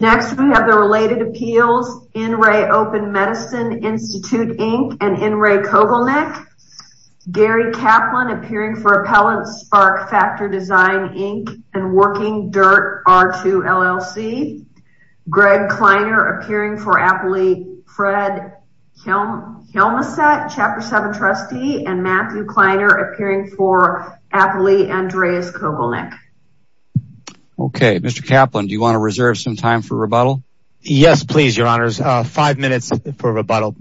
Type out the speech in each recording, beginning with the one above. Next, we have the related appeals in re OPEN MEDICINE INSTITUTE, INC. and in re Kogelnik. Gary Kaplan appearing for Appellant Spark Factor Design, Inc. and Working Dirt R2 LLC. Greg Kleiner appearing for Appley Fred Helmeset, Chapter 7 trustee and Matthew Kleiner appearing for Appley Andreas Kogelnik. Okay, Mr. Kaplan, do you want to reserve some time for rebuttal? Yes, please, your honors. Five minutes for rebuttal.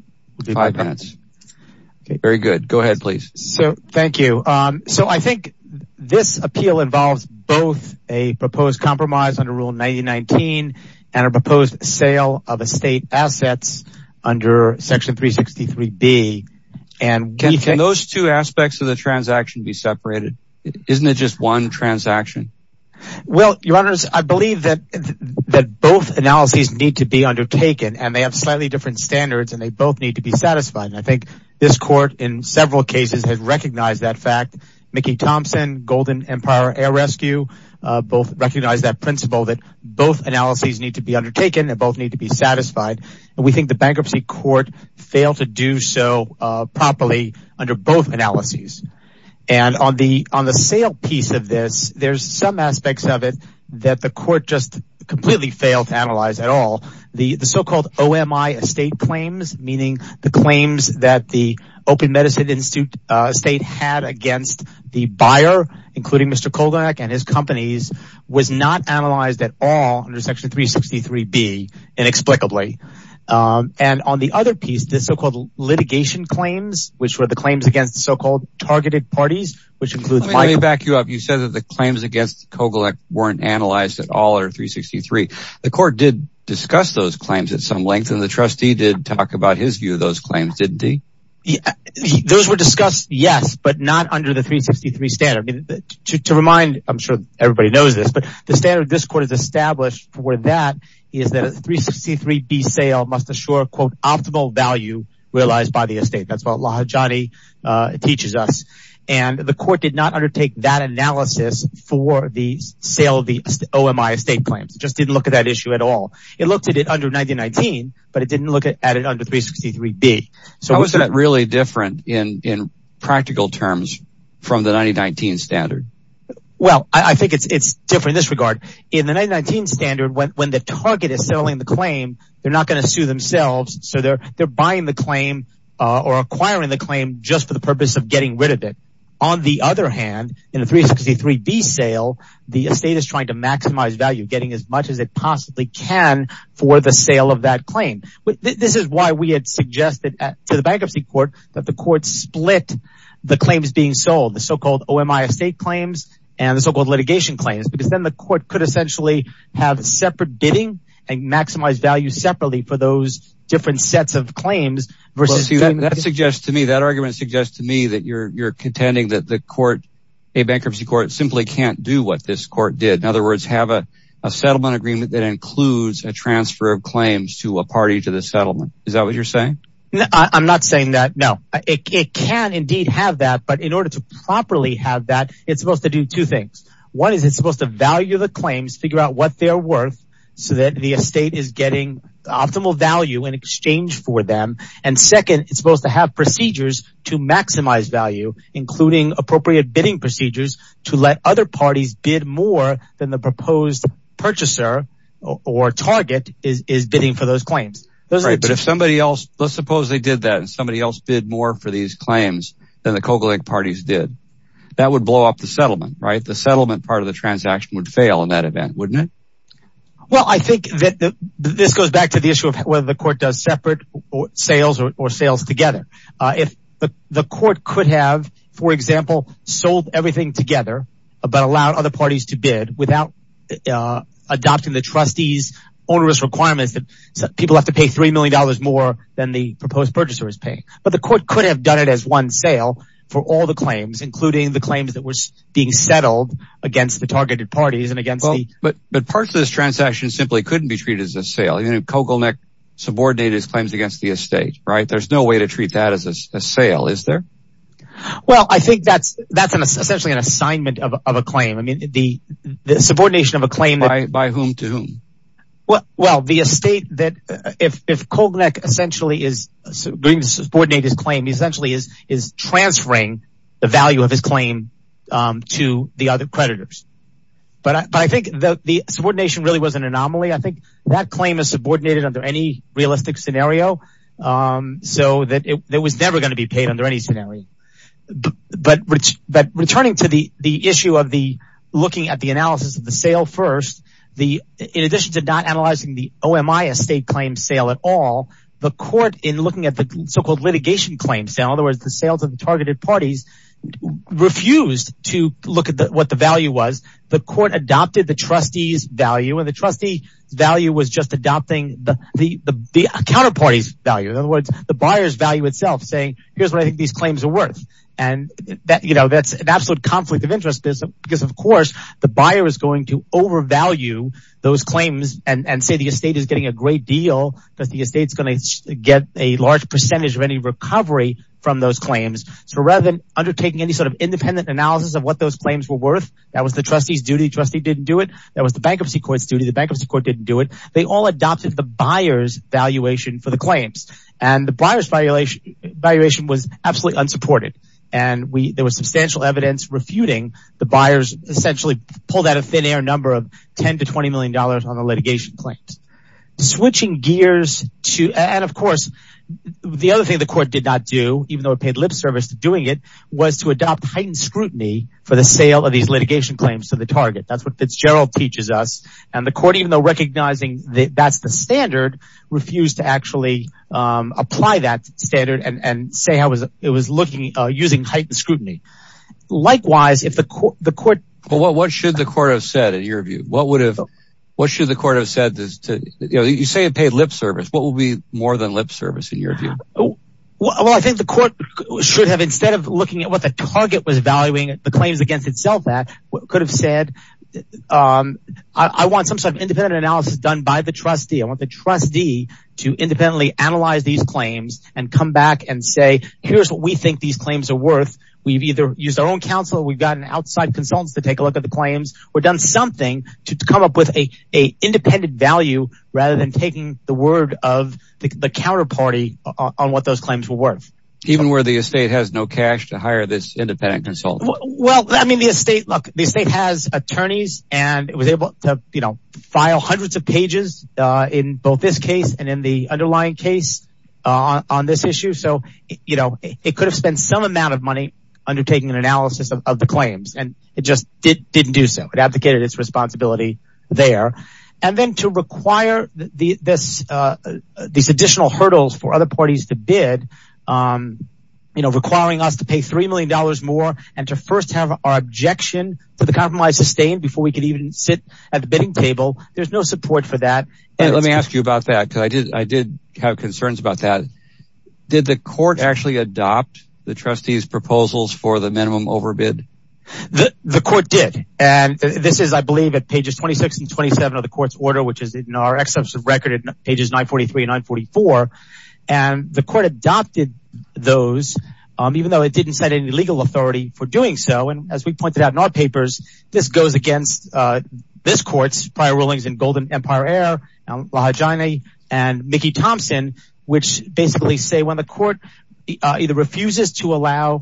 Five minutes. Very good. Go ahead, please. So thank you. So I think this appeal involves both a proposed compromise under Rule 90-19 and a proposed sale of estate assets under Section 363B. And can those two aspects of the transaction be separated? Isn't it just one transaction? Well, your honors, I believe that both analyses need to be undertaken and they have slightly different standards and they both need to be satisfied. And I think this court in several cases has recognized that fact. Mickey Thompson, Golden Empire Air Rescue both recognize that principle that both analyses need to be undertaken and both need to be satisfied. And we think the bankruptcy court failed to do so properly under both analyses. And on the sale piece of this, there's some aspects of it that the court just completely failed to analyze at all. The so-called OMI estate claims, meaning the claims that the Open Medicine Institute estate had against the buyer, including Mr. Kogelnik and his companies, was not analyzed at all under Section 363B inexplicably. And on the other piece, the so-called litigation claims, which were the claims against the so-called targeted parties, which includes... Let me back you up. You said that the claims against Kogelnik weren't analyzed at all under 363. The court did discuss those claims at some length and the trustee did talk about his view of those claims, didn't he? Those were discussed, yes, but not under the 363 standard. To remind, I'm sure everybody knows this, but the standard this court has established for that is that a 363B sale must assure, quote, optimal value realized by the estate. That's what Lahajani teaches us. And the court did not undertake that analysis for the sale of the OMI estate claims, just didn't look at that issue at all. It looked at it under 1919, but it didn't look at it under 363B. How is that really different in practical terms from the 1919 standard? Well, I think it's different in this regard. In the 1919 standard, when the target is selling the claim, they're not going to sue themselves. So they're buying the claim or acquiring the claim just for the purpose of getting rid of it. On the other hand, in the 363B sale, the estate is trying to maximize value, getting as much as it possibly can for the sale of that claim. This is why we had suggested to the bankruptcy court that the court split the claims being sold, the so-called OMI estate claims and the so-called litigation claims, because then the court could essentially have separate bidding and maximize value separately for those different sets of claims. That argument suggests to me that you're contending that the court, a bankruptcy court, simply can't do what this court did. In other words, have a settlement agreement that includes a transfer of claims to a party to the settlement. Is that what you're In order to properly have that, it's supposed to do two things. One is it's supposed to value the claims, figure out what they're worth so that the estate is getting optimal value in exchange for them. And second, it's supposed to have procedures to maximize value, including appropriate bidding procedures to let other parties bid more than the proposed purchaser or target is bidding for those claims. Right. But if somebody else, let's suppose they did that and somebody else bid more for these claims than the Kogelink parties did, that would blow up the settlement, right? The settlement part of the transaction would fail in that event, wouldn't it? Well, I think that this goes back to the issue of whether the court does separate sales or sales together. If the court could have, for example, sold everything together, but allow other parties to bid without adopting the trustees onerous requirements that people have to pay three million dollars more than the proposed purchaser is paying. But the court could have done it as one sale for all the claims, including the claims that were being settled against the targeted parties and against. But but parts of this transaction simply couldn't be treated as a sale. You know, Kogelnik subordinated his claims against the estate, right? There's no way to treat that as a sale, is there? Well, I think that's that's essentially an assignment of a claim. I mean, the subordination of a claim by whom to whom? Well, the estate that if if Kogelnik essentially is going to subordinate his claim, he essentially is is transferring the value of his claim to the other creditors. But I think the subordination really was an anomaly. I think that claim is subordinated under any realistic scenario so that it was never going to be paid under any scenario. But but returning to the the issue of looking at the analysis of the sale first, in addition to not analyzing the OMI estate claim sale at all, the court in looking at the so-called litigation claim sale, in other words, the sales of the targeted parties refused to look at what the value was. The court adopted the trustee's value and the trustee value was just adopting the counterparty's value. In other words, the buyer's value itself saying, here's what I think these claims are worth. And that's an of course, the buyer is going to overvalue those claims and say the estate is getting a great deal because the estate's going to get a large percentage of any recovery from those claims. So rather than undertaking any sort of independent analysis of what those claims were worth, that was the trustee's duty. Trustee didn't do it. That was the bankruptcy court's duty. The bankruptcy court didn't do it. They all adopted the buyer's valuation for the claims and the buyer's valuation valuation was absolutely unsupported. And we there was substantial evidence refuting the buyers essentially pulled out a thin air number of 10 to 20 million dollars on the litigation claims. Switching gears to and of course, the other thing the court did not do, even though it paid lip service to doing it, was to adopt heightened scrutiny for the sale of these litigation claims to the target. That's what Fitzgerald teaches us. And the court, even though recognizing that's the standard, refused to actually apply that standard and say how it was looking using heightened scrutiny. Likewise, if the court. Well, what should the court have said in your view? What would have what should the court have said? You say it paid lip service. What will be more than lip service in your view? Well, I think the court should have instead of looking at what the target was valuing the claims against itself that could have said, I want some sort of independent analysis done by the trustee. I want the trustee to independently analyze these claims and come back and say, here's what we think these claims are worth. We've either used our own counsel. We've gotten outside consultants to take a look at the claims. We've done something to come up with a independent value rather than taking the word of the counterparty on what those claims were worth. Even where the estate has no cash to hire this independent consultant. Well, I mean, the estate look, the state has attorneys and it was able to file hundreds of pages in both this case and in the underlying case on this issue. So it could have spent some amount of money undertaking an analysis of the claims, and it just didn't do so. It abdicated its responsibility there. And then to require these additional hurdles for other parties to bid, requiring us to pay $3 million more and to first have our objection to the compromise sustained before we can even sit at the bidding table. There's no support for that. Let me ask you about that because I did have concerns about that. Did the court actually adopt the trustee's proposals for the minimum overbid? The court did. And this is, I believe, at pages 26 and 27 of the court's order, which is in our extensive record at pages 943 and 944. And the court adopted those, even though it didn't set any legal authority for doing so. And as we pointed out in our papers, this goes against this court's prior rulings in Golden Empire Air, Lahajani and Mickey Thompson, which basically say when the court either refuses to allow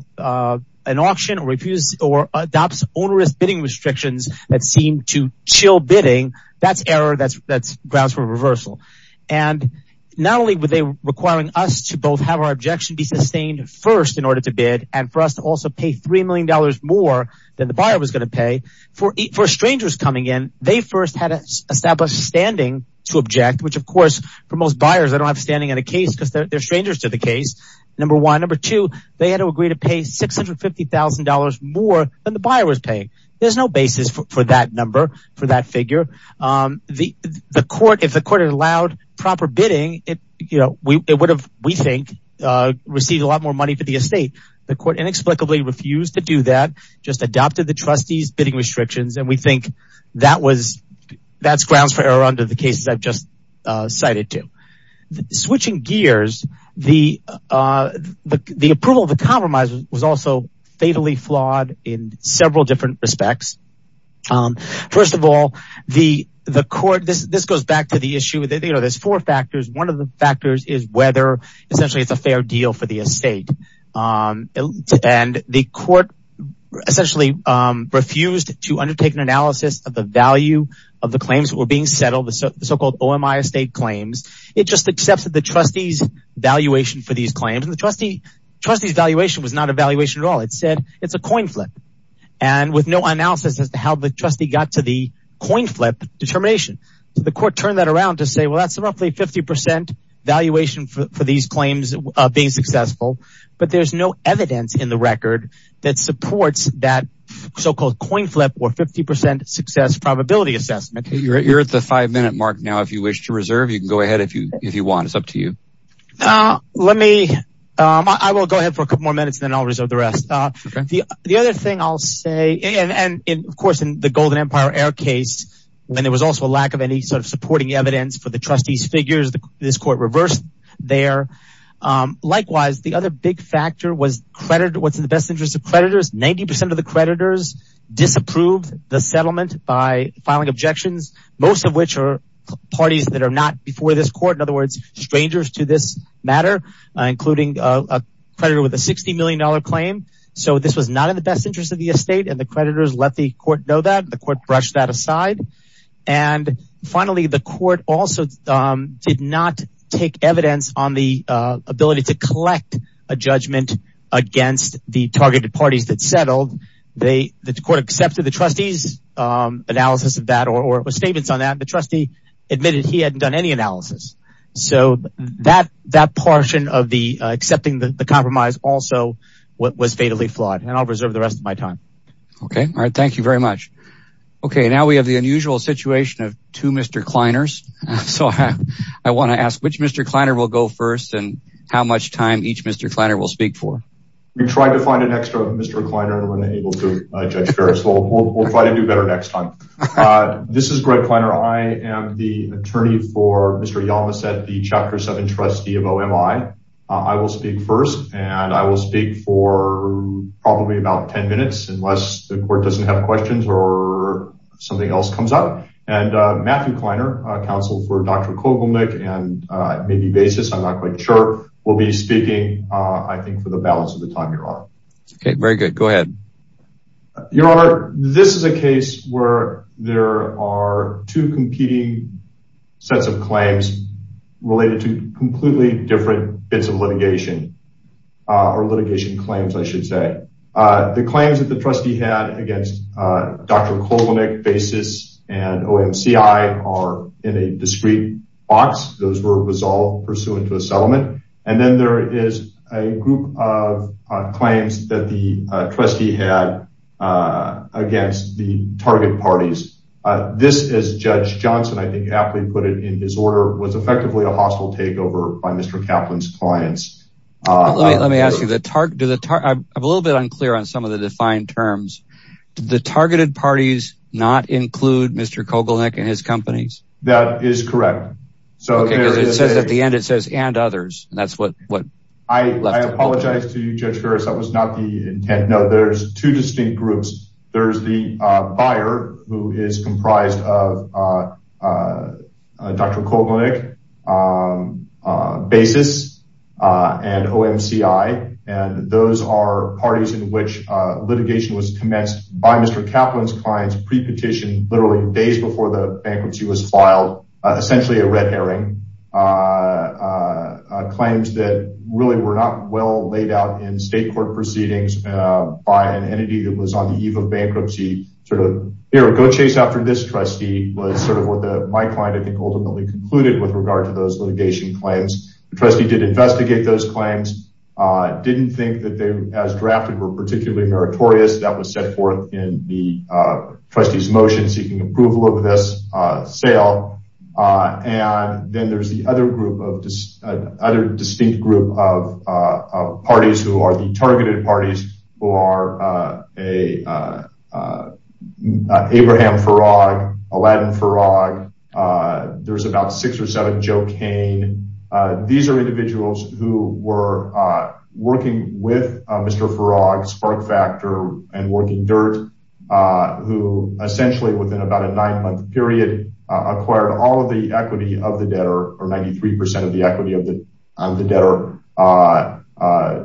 an auction or adopts onerous bidding restrictions that seem to chill bidding, that's error, that's grounds for reversal. And not only were they requiring us to both have our objection be sustained first in order to bid and for us to also pay $3 million more than the buyer was going to pay, for strangers coming in, they first had to establish standing to object, which, of course, for most buyers, they don't have standing in a case because they're strangers to the case, number one. Number two, they had to agree to pay $650,000 more than the buyer was paying. There's no basis for that number, for that figure. If the court had allowed proper bidding, it would have, we think, received a lot more money for the estate. The court inexplicably refused to do that, just adopted the trustee's bidding restrictions. And we think that's grounds for error under the cases I've just cited to. Switching gears, the approval of the compromise was also fatally flawed in several different respects. First of all, the court, this goes back to the issue, there's four factors. One of the factors is whether essentially it's a fair deal for the estate. And the court essentially refused to undertake an analysis of the value of the claims that were being settled, the so-called OMI estate claims. It just accepts that the trustee's valuation for these claims, and the trustee got to the coin flip determination. The court turned that around to say, well, that's roughly 50% valuation for these claims being successful. But there's no evidence in the record that supports that so-called coin flip or 50% success probability assessment. You're at the five minute mark now. If you wish to reserve, you can go ahead if you want. It's up to you. Let me, I will go ahead for a couple more minutes, then I'll reserve the rest. The other thing I'll say, and of course, in the Golden Empire Air case, when there was also a lack of any sort of supporting evidence for the trustee's figures, this court reversed there. Likewise, the other big factor was what's in the best interest of creditors. 90% of the creditors disapproved the settlement by filing objections, most of which are parties that are not before this court. In other words, strangers to this matter, including a creditor with a $60 million claim. This was not in the best interest of the estate, and the creditors let the court know that. The court brushed that aside. Finally, the court also did not take evidence on the ability to collect a judgment against the targeted parties that settled. The court accepted the trustee's analysis of that or statements on that. The trustee admitted he hadn't done any analysis. That portion of the compromise was also fatally flawed. I'll reserve the rest of my time. Thank you very much. Now we have the unusual situation of two Mr. Kleiners. I want to ask which Mr. Kleiner will go first, and how much time each Mr. Kleiner will speak for. We tried to find an extra Mr. Kleiner, and we weren't able to, Judge Ferris. We'll try to do better next time. This is Greg Kleiner. I am the attorney for Mr. Yamaset, the Chapter 7 trustee of OMI. I will speak first, and I will speak for probably about 10 minutes, unless the court doesn't have questions or something else comes up. Matthew Kleiner, counsel for Dr. Kogelnick, and maybe Basis, I'm not quite sure, will be speaking, I think, for the balance of the time, Your Honor. Okay, very good. Go ahead. Your Honor, this is a case where there are two competing sets of claims related to completely different bits of litigation, or litigation claims, I should say. The claims that the trustee had against Dr. Kogelnick, Basis, and OMCI are in a discrete box. Those were all pursuant to a settlement. And then there is a group of that the trustee had against the target parties. This, as Judge Johnson, I think, aptly put it in his order, was effectively a hostile takeover by Mr. Kaplan's clients. Let me ask you, I'm a little bit unclear on some of the defined terms. Did the targeted parties not include Mr. Kogelnick and his companies? That is correct. It says at the end, it says, and others, and that's what? I apologize to you, Judge Ferris, that was not the intent. No, there's two distinct groups. There's the buyer, who is comprised of Dr. Kogelnick, Basis, and OMCI. And those are parties in which litigation was commenced by Mr. Kaplan's clients pre-petition literally days before the bankruptcy was filed. Essentially, a red herring. Claims that really were not well laid out in state court proceedings by an entity that was on the eve of bankruptcy, sort of, here, go chase after this trustee, was sort of what my client, I think, ultimately concluded with regard to those litigation claims. The trustee did investigate those claims. Didn't think that they, as drafted, were particularly meritorious. That was set forth in the trustee's motion seeking approval of this sale. And then there's the other group of other distinct group of parties who are the targeted parties, who are Abraham Farag, Aladdin Farag. There's about six or seven Joe Kane. These are individuals who were working with Mr. Farag, Spark Factor, and Working Dirt, who essentially, within about a nine-month period, acquired all of the equity of the debtor, or 93% of the equity of the debtor.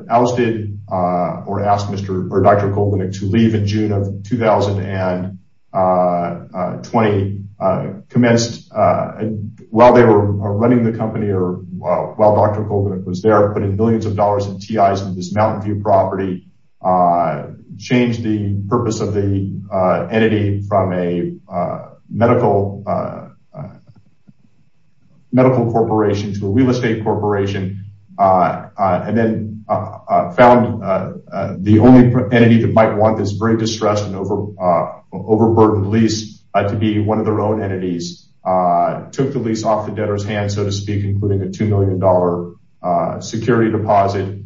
Ousted, or asked Dr. Kogelnick to leave in June of 2020. Commenced, while they were running the company, or while Dr. Kogelnick was there, putting millions of dollars in TIs on this Mountain View property. Changed the purpose of the entity from a medical corporation to a real estate corporation. And then found the only entity that might want this very distressed and overburdened lease to be one of their own entities. Took the lease off the deposit.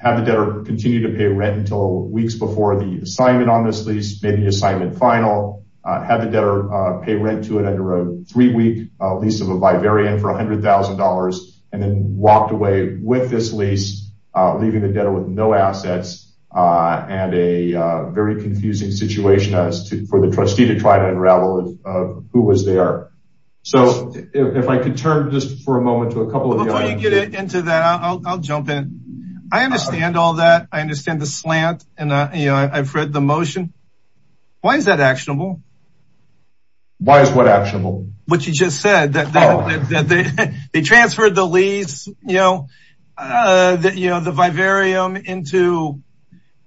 Had the debtor continue to pay rent until weeks before the assignment on this lease. Made the assignment final. Had the debtor pay rent to it under a three-week lease of a Bivarian for $100,000. And then walked away with this lease, leaving the debtor with no assets. And a very confusing situation for the trustee to try to unravel who was there. So, if I could turn just for a moment to a couple of the items. Before you get into that, I'll jump in. I understand all that. I understand the slant, and I've read the motion. Why is that actionable? Why is what actionable? What you just said, that they transferred the lease, you know, the Bivarium into,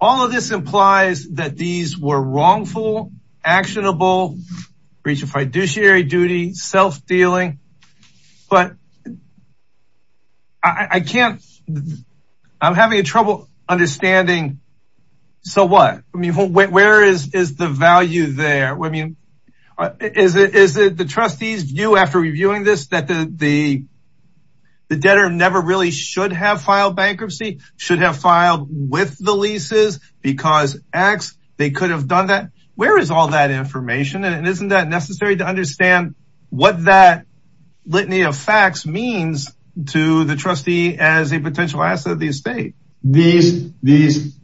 all of this implies that these were wrongful, actionable, breach of fiduciary duty, self-dealing. But I can't, I'm having trouble understanding. So what? I mean, where is the value there? I mean, is it the trustee's view after reviewing this that the debtor never really should have filed with the leases because X, they could have done that. Where is all that information? And isn't that necessary to understand what that litany of facts means to the trustee as a potential asset of the estate? This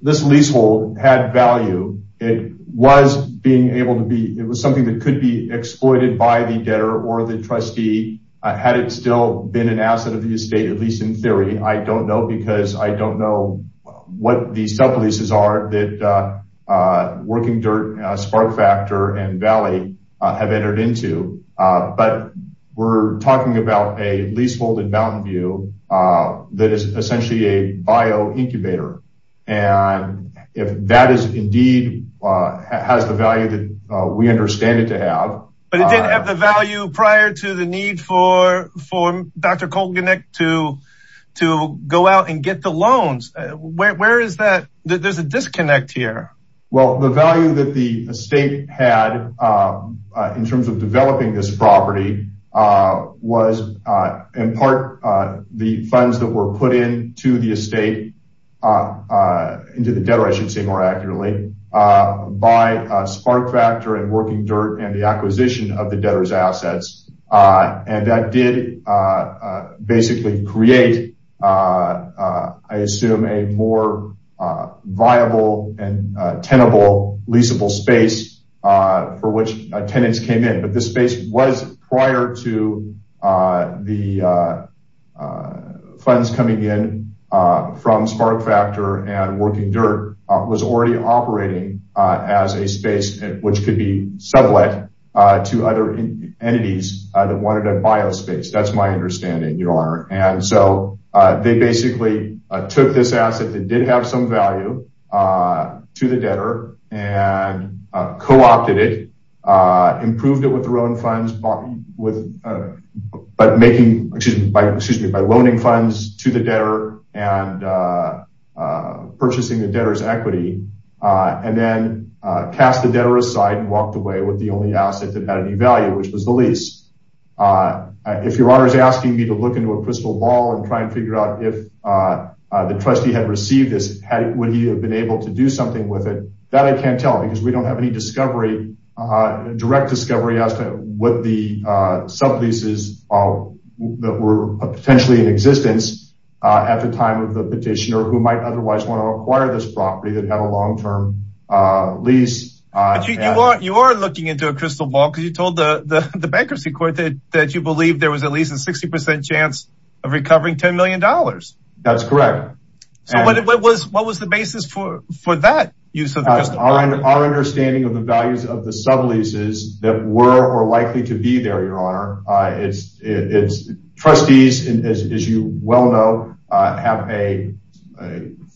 leasehold had value. It was being able to be, it was something that could be exploited by the debtor or the trustee. Had it still been an asset of the estate, at least in theory, I don't know, because I don't know what these self-leases are that Working Dirt, Spark Factor, and Valley have entered into. But we're talking about a leasehold in Mountain View that is essentially a bio incubator. And if that is indeed, has the value that we understand it to have. But it didn't have the value prior to the need for, for Dr. Kolganek to, to go out and get the loans. Where is that? There's a disconnect here. Well, the value that the estate had in terms of developing this property was in part, the funds that were put into the estate, into the debtor, I should say more accurately, by Spark Factor and Working Dirt and the acquisition of the debtor's assets. And that did basically create, I assume, a more viable and tenable leaseable space for which tenants came in. But this space was prior to the funds coming in from Spark Factor and Working Dirt was already operating as a space which could be sublet to other entities that wanted a biospace. That's my understanding, Your Honor. And so they basically took this asset that did have some value to the debtor and co-opted it, improved it with their own funds, but making, excuse me, by loaning funds to the debtor and purchasing the debtor's equity, and then cast the debtor aside and walked away with the only asset that had any value, which was the lease. If Your Honor is asking me to look into a crystal ball and try and figure out if the trustee had received this, would he have been able to do with it? That I can't tell because we don't have any discovery, direct discovery as to what the subleases that were potentially in existence at the time of the petitioner who might otherwise want to acquire this property that had a long-term lease. But you are looking into a crystal ball because you told the bankruptcy court that you believe there was at least a 60% chance of recovering $10 million. That's correct. So what was the basis for that use of the crystal ball? Our understanding of the values of the subleases that were or likely to be there, Your Honor, trustees, as you well know, have a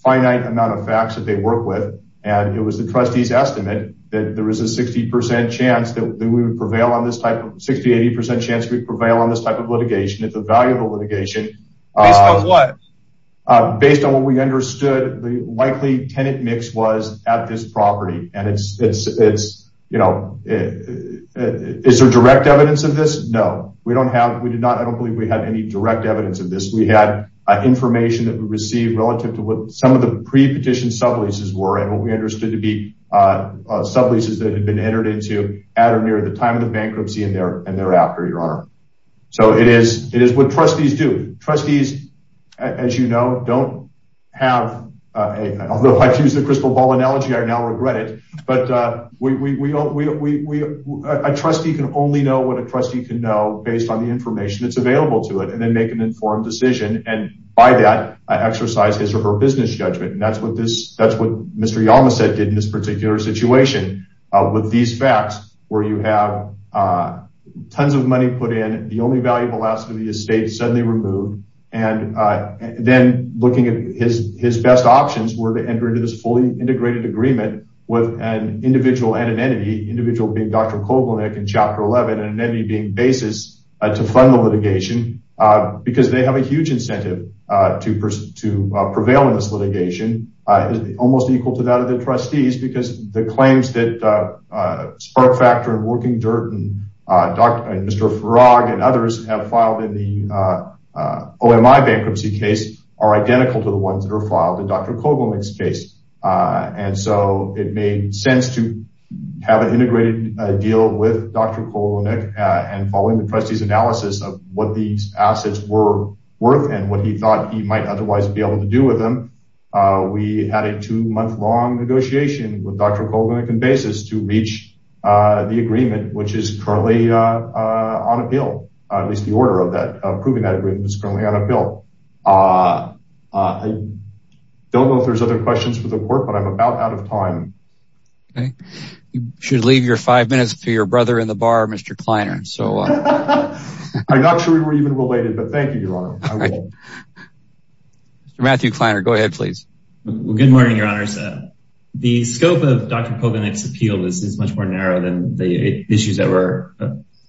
finite amount of facts that they work with. And it was the trustee's estimate that there was a 60% chance that we would prevail on this type of, 60-80% chance we'd prevail on this type of litigation. It's a valuable litigation. Based on what? Based on what we understood, the likely tenant mix was at this property. And it's, you know, is there direct evidence of this? No, we don't have, we did not, I don't believe we had any direct evidence of this. We had information that we received relative to what some of the pre-petition subleases were and what we understood to be subleases that had been entered into at or near the time of the bankruptcy and thereafter, Your Honor. So it is what trustees do. Trustees, as you know, don't have a, although I've used the crystal ball analogy, I now regret it, but a trustee can only know what a trustee can know based on the information that's available to it and then make an informed decision. And by that, exercise his or her business judgment. And that's what this, that's what Mr. Yamase did in this particular situation with these facts, where you have tons of money put in, the only valuable asset of the estate suddenly removed, and then looking at his best options were to enter into this fully integrated agreement with an individual and an entity, individual being Dr. Koblenek in Chapter 11 and an entity being basis to fund the litigation, because they have a huge incentive to prevail in this litigation, almost equal to that of the trustees, because the claims that Spark Factor and Working have filed in the OMI bankruptcy case are identical to the ones that are filed in Dr. Koblenek's case. And so it made sense to have an integrated deal with Dr. Koblenek and following the trustee's analysis of what these assets were worth and what he thought he might otherwise be able to do with them. We had a two month long negotiation with Dr. Koblenek and basis to reach the agreement, which is currently on appeal. At least the order of that approving that agreement is currently on appeal. I don't know if there's other questions for the court, but I'm about out of time. Okay, you should leave your five minutes to your brother in the bar, Mr. Kleiner. So I'm not sure we were even related, but thank you, Your Honor. Mr. Matthew Kleiner, go ahead, please. Good morning, Your Honor. The scope of Dr. Koblenek's case is more than the issues that were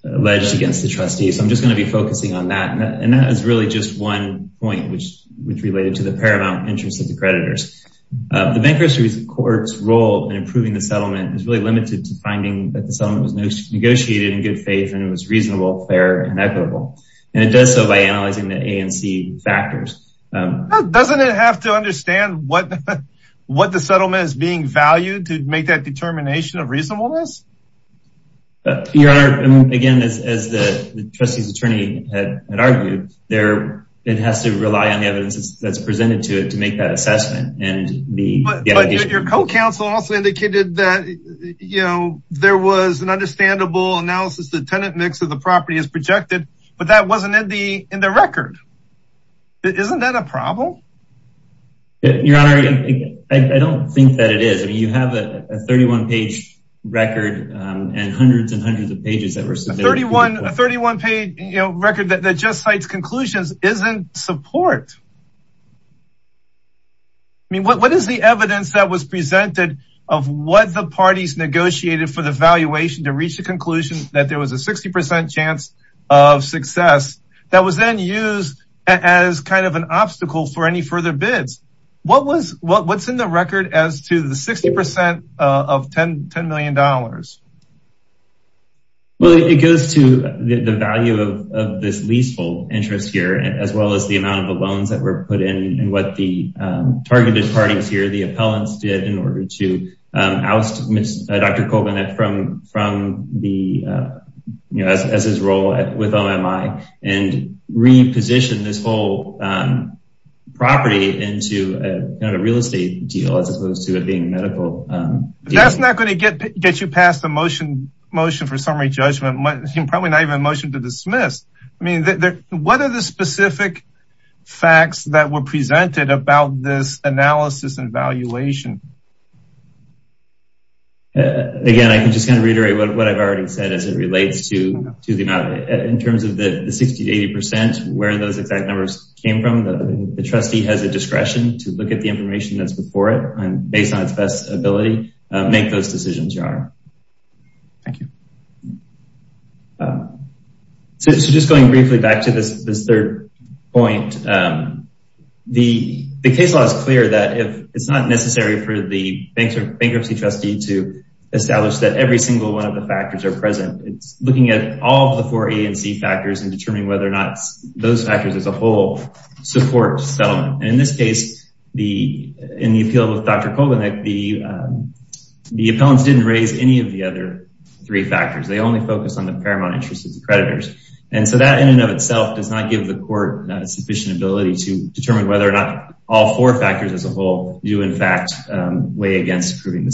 alleged against the trustees. I'm just going to be focusing on that. And that is really just one point, which related to the paramount interest of the creditors. The bankruptcy court's role in approving the settlement is really limited to finding that the settlement was negotiated in good faith and it was reasonable, fair and equitable. And it does so by analyzing the A and C factors. Doesn't it have to understand what the settlement is being valued to make that determination of reasonableness? Your Honor, again, as the trustee's attorney had argued, it has to rely on the evidence that's presented to it to make that assessment. But your co-counsel also indicated that, you know, there was an understandable analysis that tenant mix of the property is projected, but that wasn't in the record. Isn't that a problem? Your Honor, I don't think that it is. You have a 31-page record and hundreds and hundreds of pages that were submitted. A 31-page record that just cites conclusions isn't support. I mean, what is the evidence that was presented of what the parties negotiated for the valuation to reach the conclusion that there was a 60% chance of success that was then used as kind of an obstacle for any further bids? What's in the record as to the 60% of $10 million? Well, it goes to the value of this leasehold interest here, as well as the amount of the loans that were put in and what the targeted parties here, the appellants did in order to property into a real estate deal, as opposed to it being a medical deal. That's not going to get you past the motion for summary judgment, probably not even a motion to dismiss. I mean, what are the specific facts that were presented about this analysis and valuation? Again, I can just kind of reiterate what I've already said as it relates to the amount in those exact numbers came from. The trustee has a discretion to look at the information that's before it and based on its best ability, make those decisions, your honor. Thank you. So just going briefly back to this third point, the case law is clear that if it's not necessary for the bankruptcy trustee to establish that every single one of the factors are present, it's looking at all of the four A and C factors and determining whether or not those factors as a whole support settlement. And in this case, in the appeal with Dr. Kovanec, the appellants didn't raise any of the other three factors. They only focused on the paramount interest of the creditors. And so that in and of itself does not give the court sufficient ability to determine whether or not all four factors as a whole do in fact weigh against approving the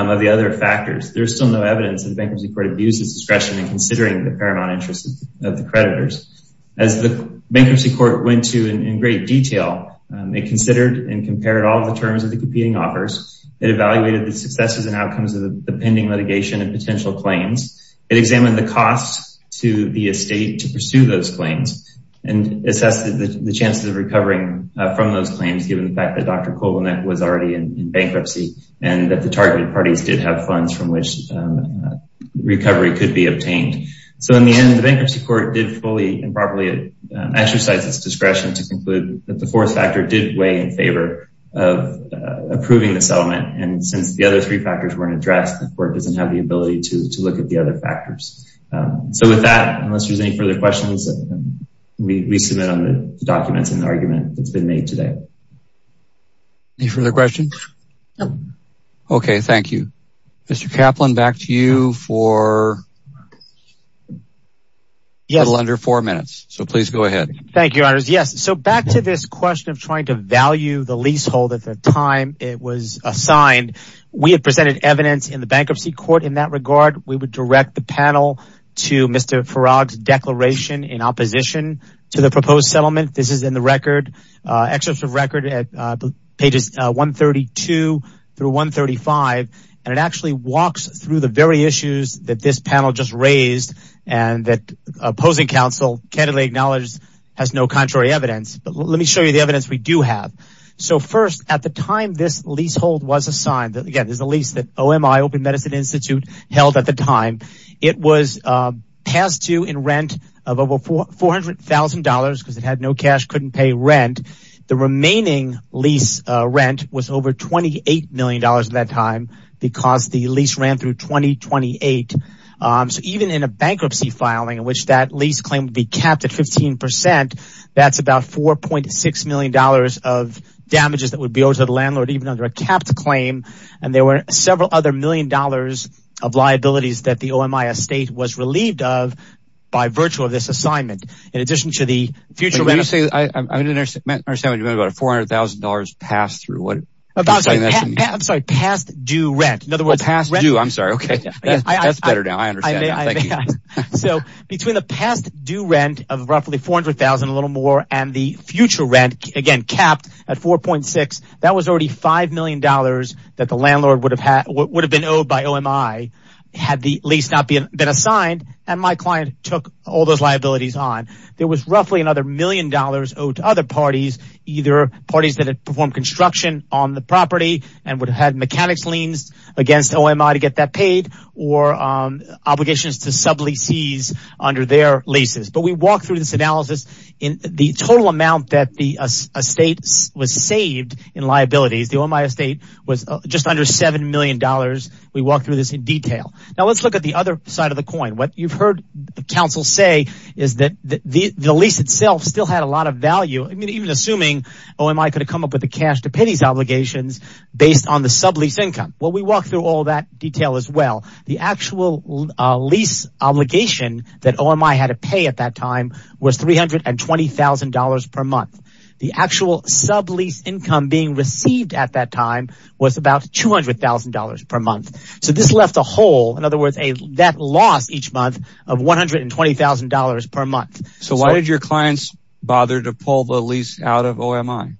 of the other factors. There's still no evidence that the bankruptcy court abuses discretion in considering the paramount interest of the creditors. As the bankruptcy court went to in great detail, it considered and compared all the terms of the competing offers. It evaluated the successes and outcomes of the pending litigation and potential claims. It examined the costs to the estate to pursue those claims and assessed the chances of recovering from those claims, given the fact that Dr. Kovanec was already in bankruptcy and that the targeted parties did have funds from which recovery could be obtained. So in the end, the bankruptcy court did fully and properly exercise its discretion to conclude that the fourth factor did weigh in favor of approving the settlement. And since the other three factors weren't addressed, the court doesn't have the ability to look at the other factors. So with that, unless there's any further questions, we submit on the documents in the argument that's been made today. Any further questions? No. Okay, thank you. Mr. Kaplan, back to you for a little under four minutes. So please go ahead. Thank you, your honors. Yes. So back to this question of trying to value the leasehold at the time it was assigned, we had presented evidence in the bankruptcy court. In that regard, we would direct the panel to Mr. Farag's declaration in opposition to the proposed settlement. This is in the record, excerpts of record at pages 132 through 135. And it actually walks through the very issues that this panel just raised and that opposing counsel candidly acknowledged has no contrary evidence. But let me show you the evidence we do have. So first, at the time this leasehold was assigned, again, there's a lease that OMI Open Medicine Institute held at the time. It was passed to in rent of over $400,000 because it had no cash, couldn't pay rent. The remaining lease rent was over $28 million at that time because the lease ran through 2028. So even in a bankruptcy filing in which that lease claim would be capped at 15%, that's about $4.6 million of damages that would be owed to the landlord even under a capped claim. And there were several other million dollars of liabilities that the OMI estate was relieved of by virtue of this assignment. In addition to the future... When you say, I didn't understand what you meant about a $400,000 pass-through. I'm sorry, past due rent. In other words... Past due, I'm sorry. Okay. That's better now. I understand. Thank you. So between the past due rent of roughly $400,000, a little more, and the future rent, again, capped at 4.6, that was already $5 million that the landlord would have been owed by OMI had the lease not been assigned and my client took all those liabilities on. There was roughly another million dollars owed to other parties, either parties that had performed construction on the property and would have had mechanics liens against OMI to get that paid or obligations to sub-leases under their leases. But we walked through this analysis. The total amount that the estate was saved in liabilities, the OMI estate was just under $7 million. We walked through this in detail. Now let's look at the other side of the coin. What you've heard the council say is that the lease itself still had a lot of value. I mean, even assuming OMI could have come up with the cash-to-pennies obligations based on the sub-lease income. Well, we walked through all that detail as well. The actual lease obligation that OMI had to pay at that time was $320,000 per month. The actual sub-lease income being received at that time was about $200,000 per month. So this left a hole, in other words, that loss each month of $120,000 per month. So why did your clients bother to pull the lease out of OMI?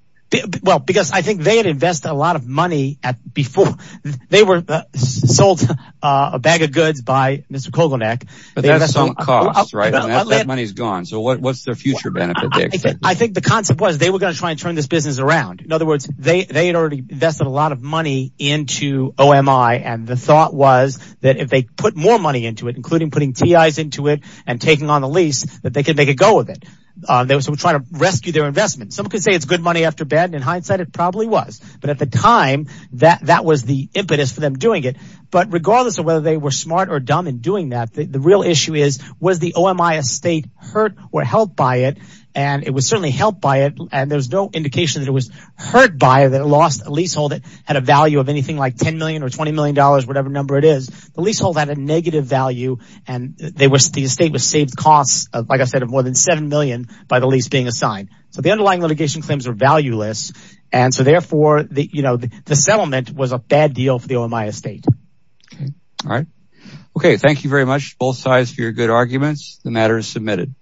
Because I think they had invested a lot of money before. They were sold a bag of goods by Mr. Kogelnik. But that's some cost, right? That money's gone. So what's their future benefit? I think the concept was they were going to try and turn this business around. In other words, they had already invested a lot of money into OMI and the thought was that if they put more money into it, including putting TIs into it and taking on the lease, that they could make a go of it. They were trying to rescue their investment. Some could say it's good money after bad. In hindsight, it probably was. But at the time, that was the impetus for them doing it. But regardless of whether they were smart or dumb in doing that, the real issue is, was the OMI estate hurt or helped by it? It was certainly helped by it and there's no indication that it was hurt by it, that it lost a leasehold that had a value of anything like $10 million or $20 million, whatever number it is. The leasehold had a negative value and the estate was saved like I said, of more than $7 million by the lease being assigned. So the underlying litigation claims are valueless and so therefore, the settlement was a bad deal for the OMI estate. All right. Okay. Thank you very much both sides for your good arguments. The matter is submitted.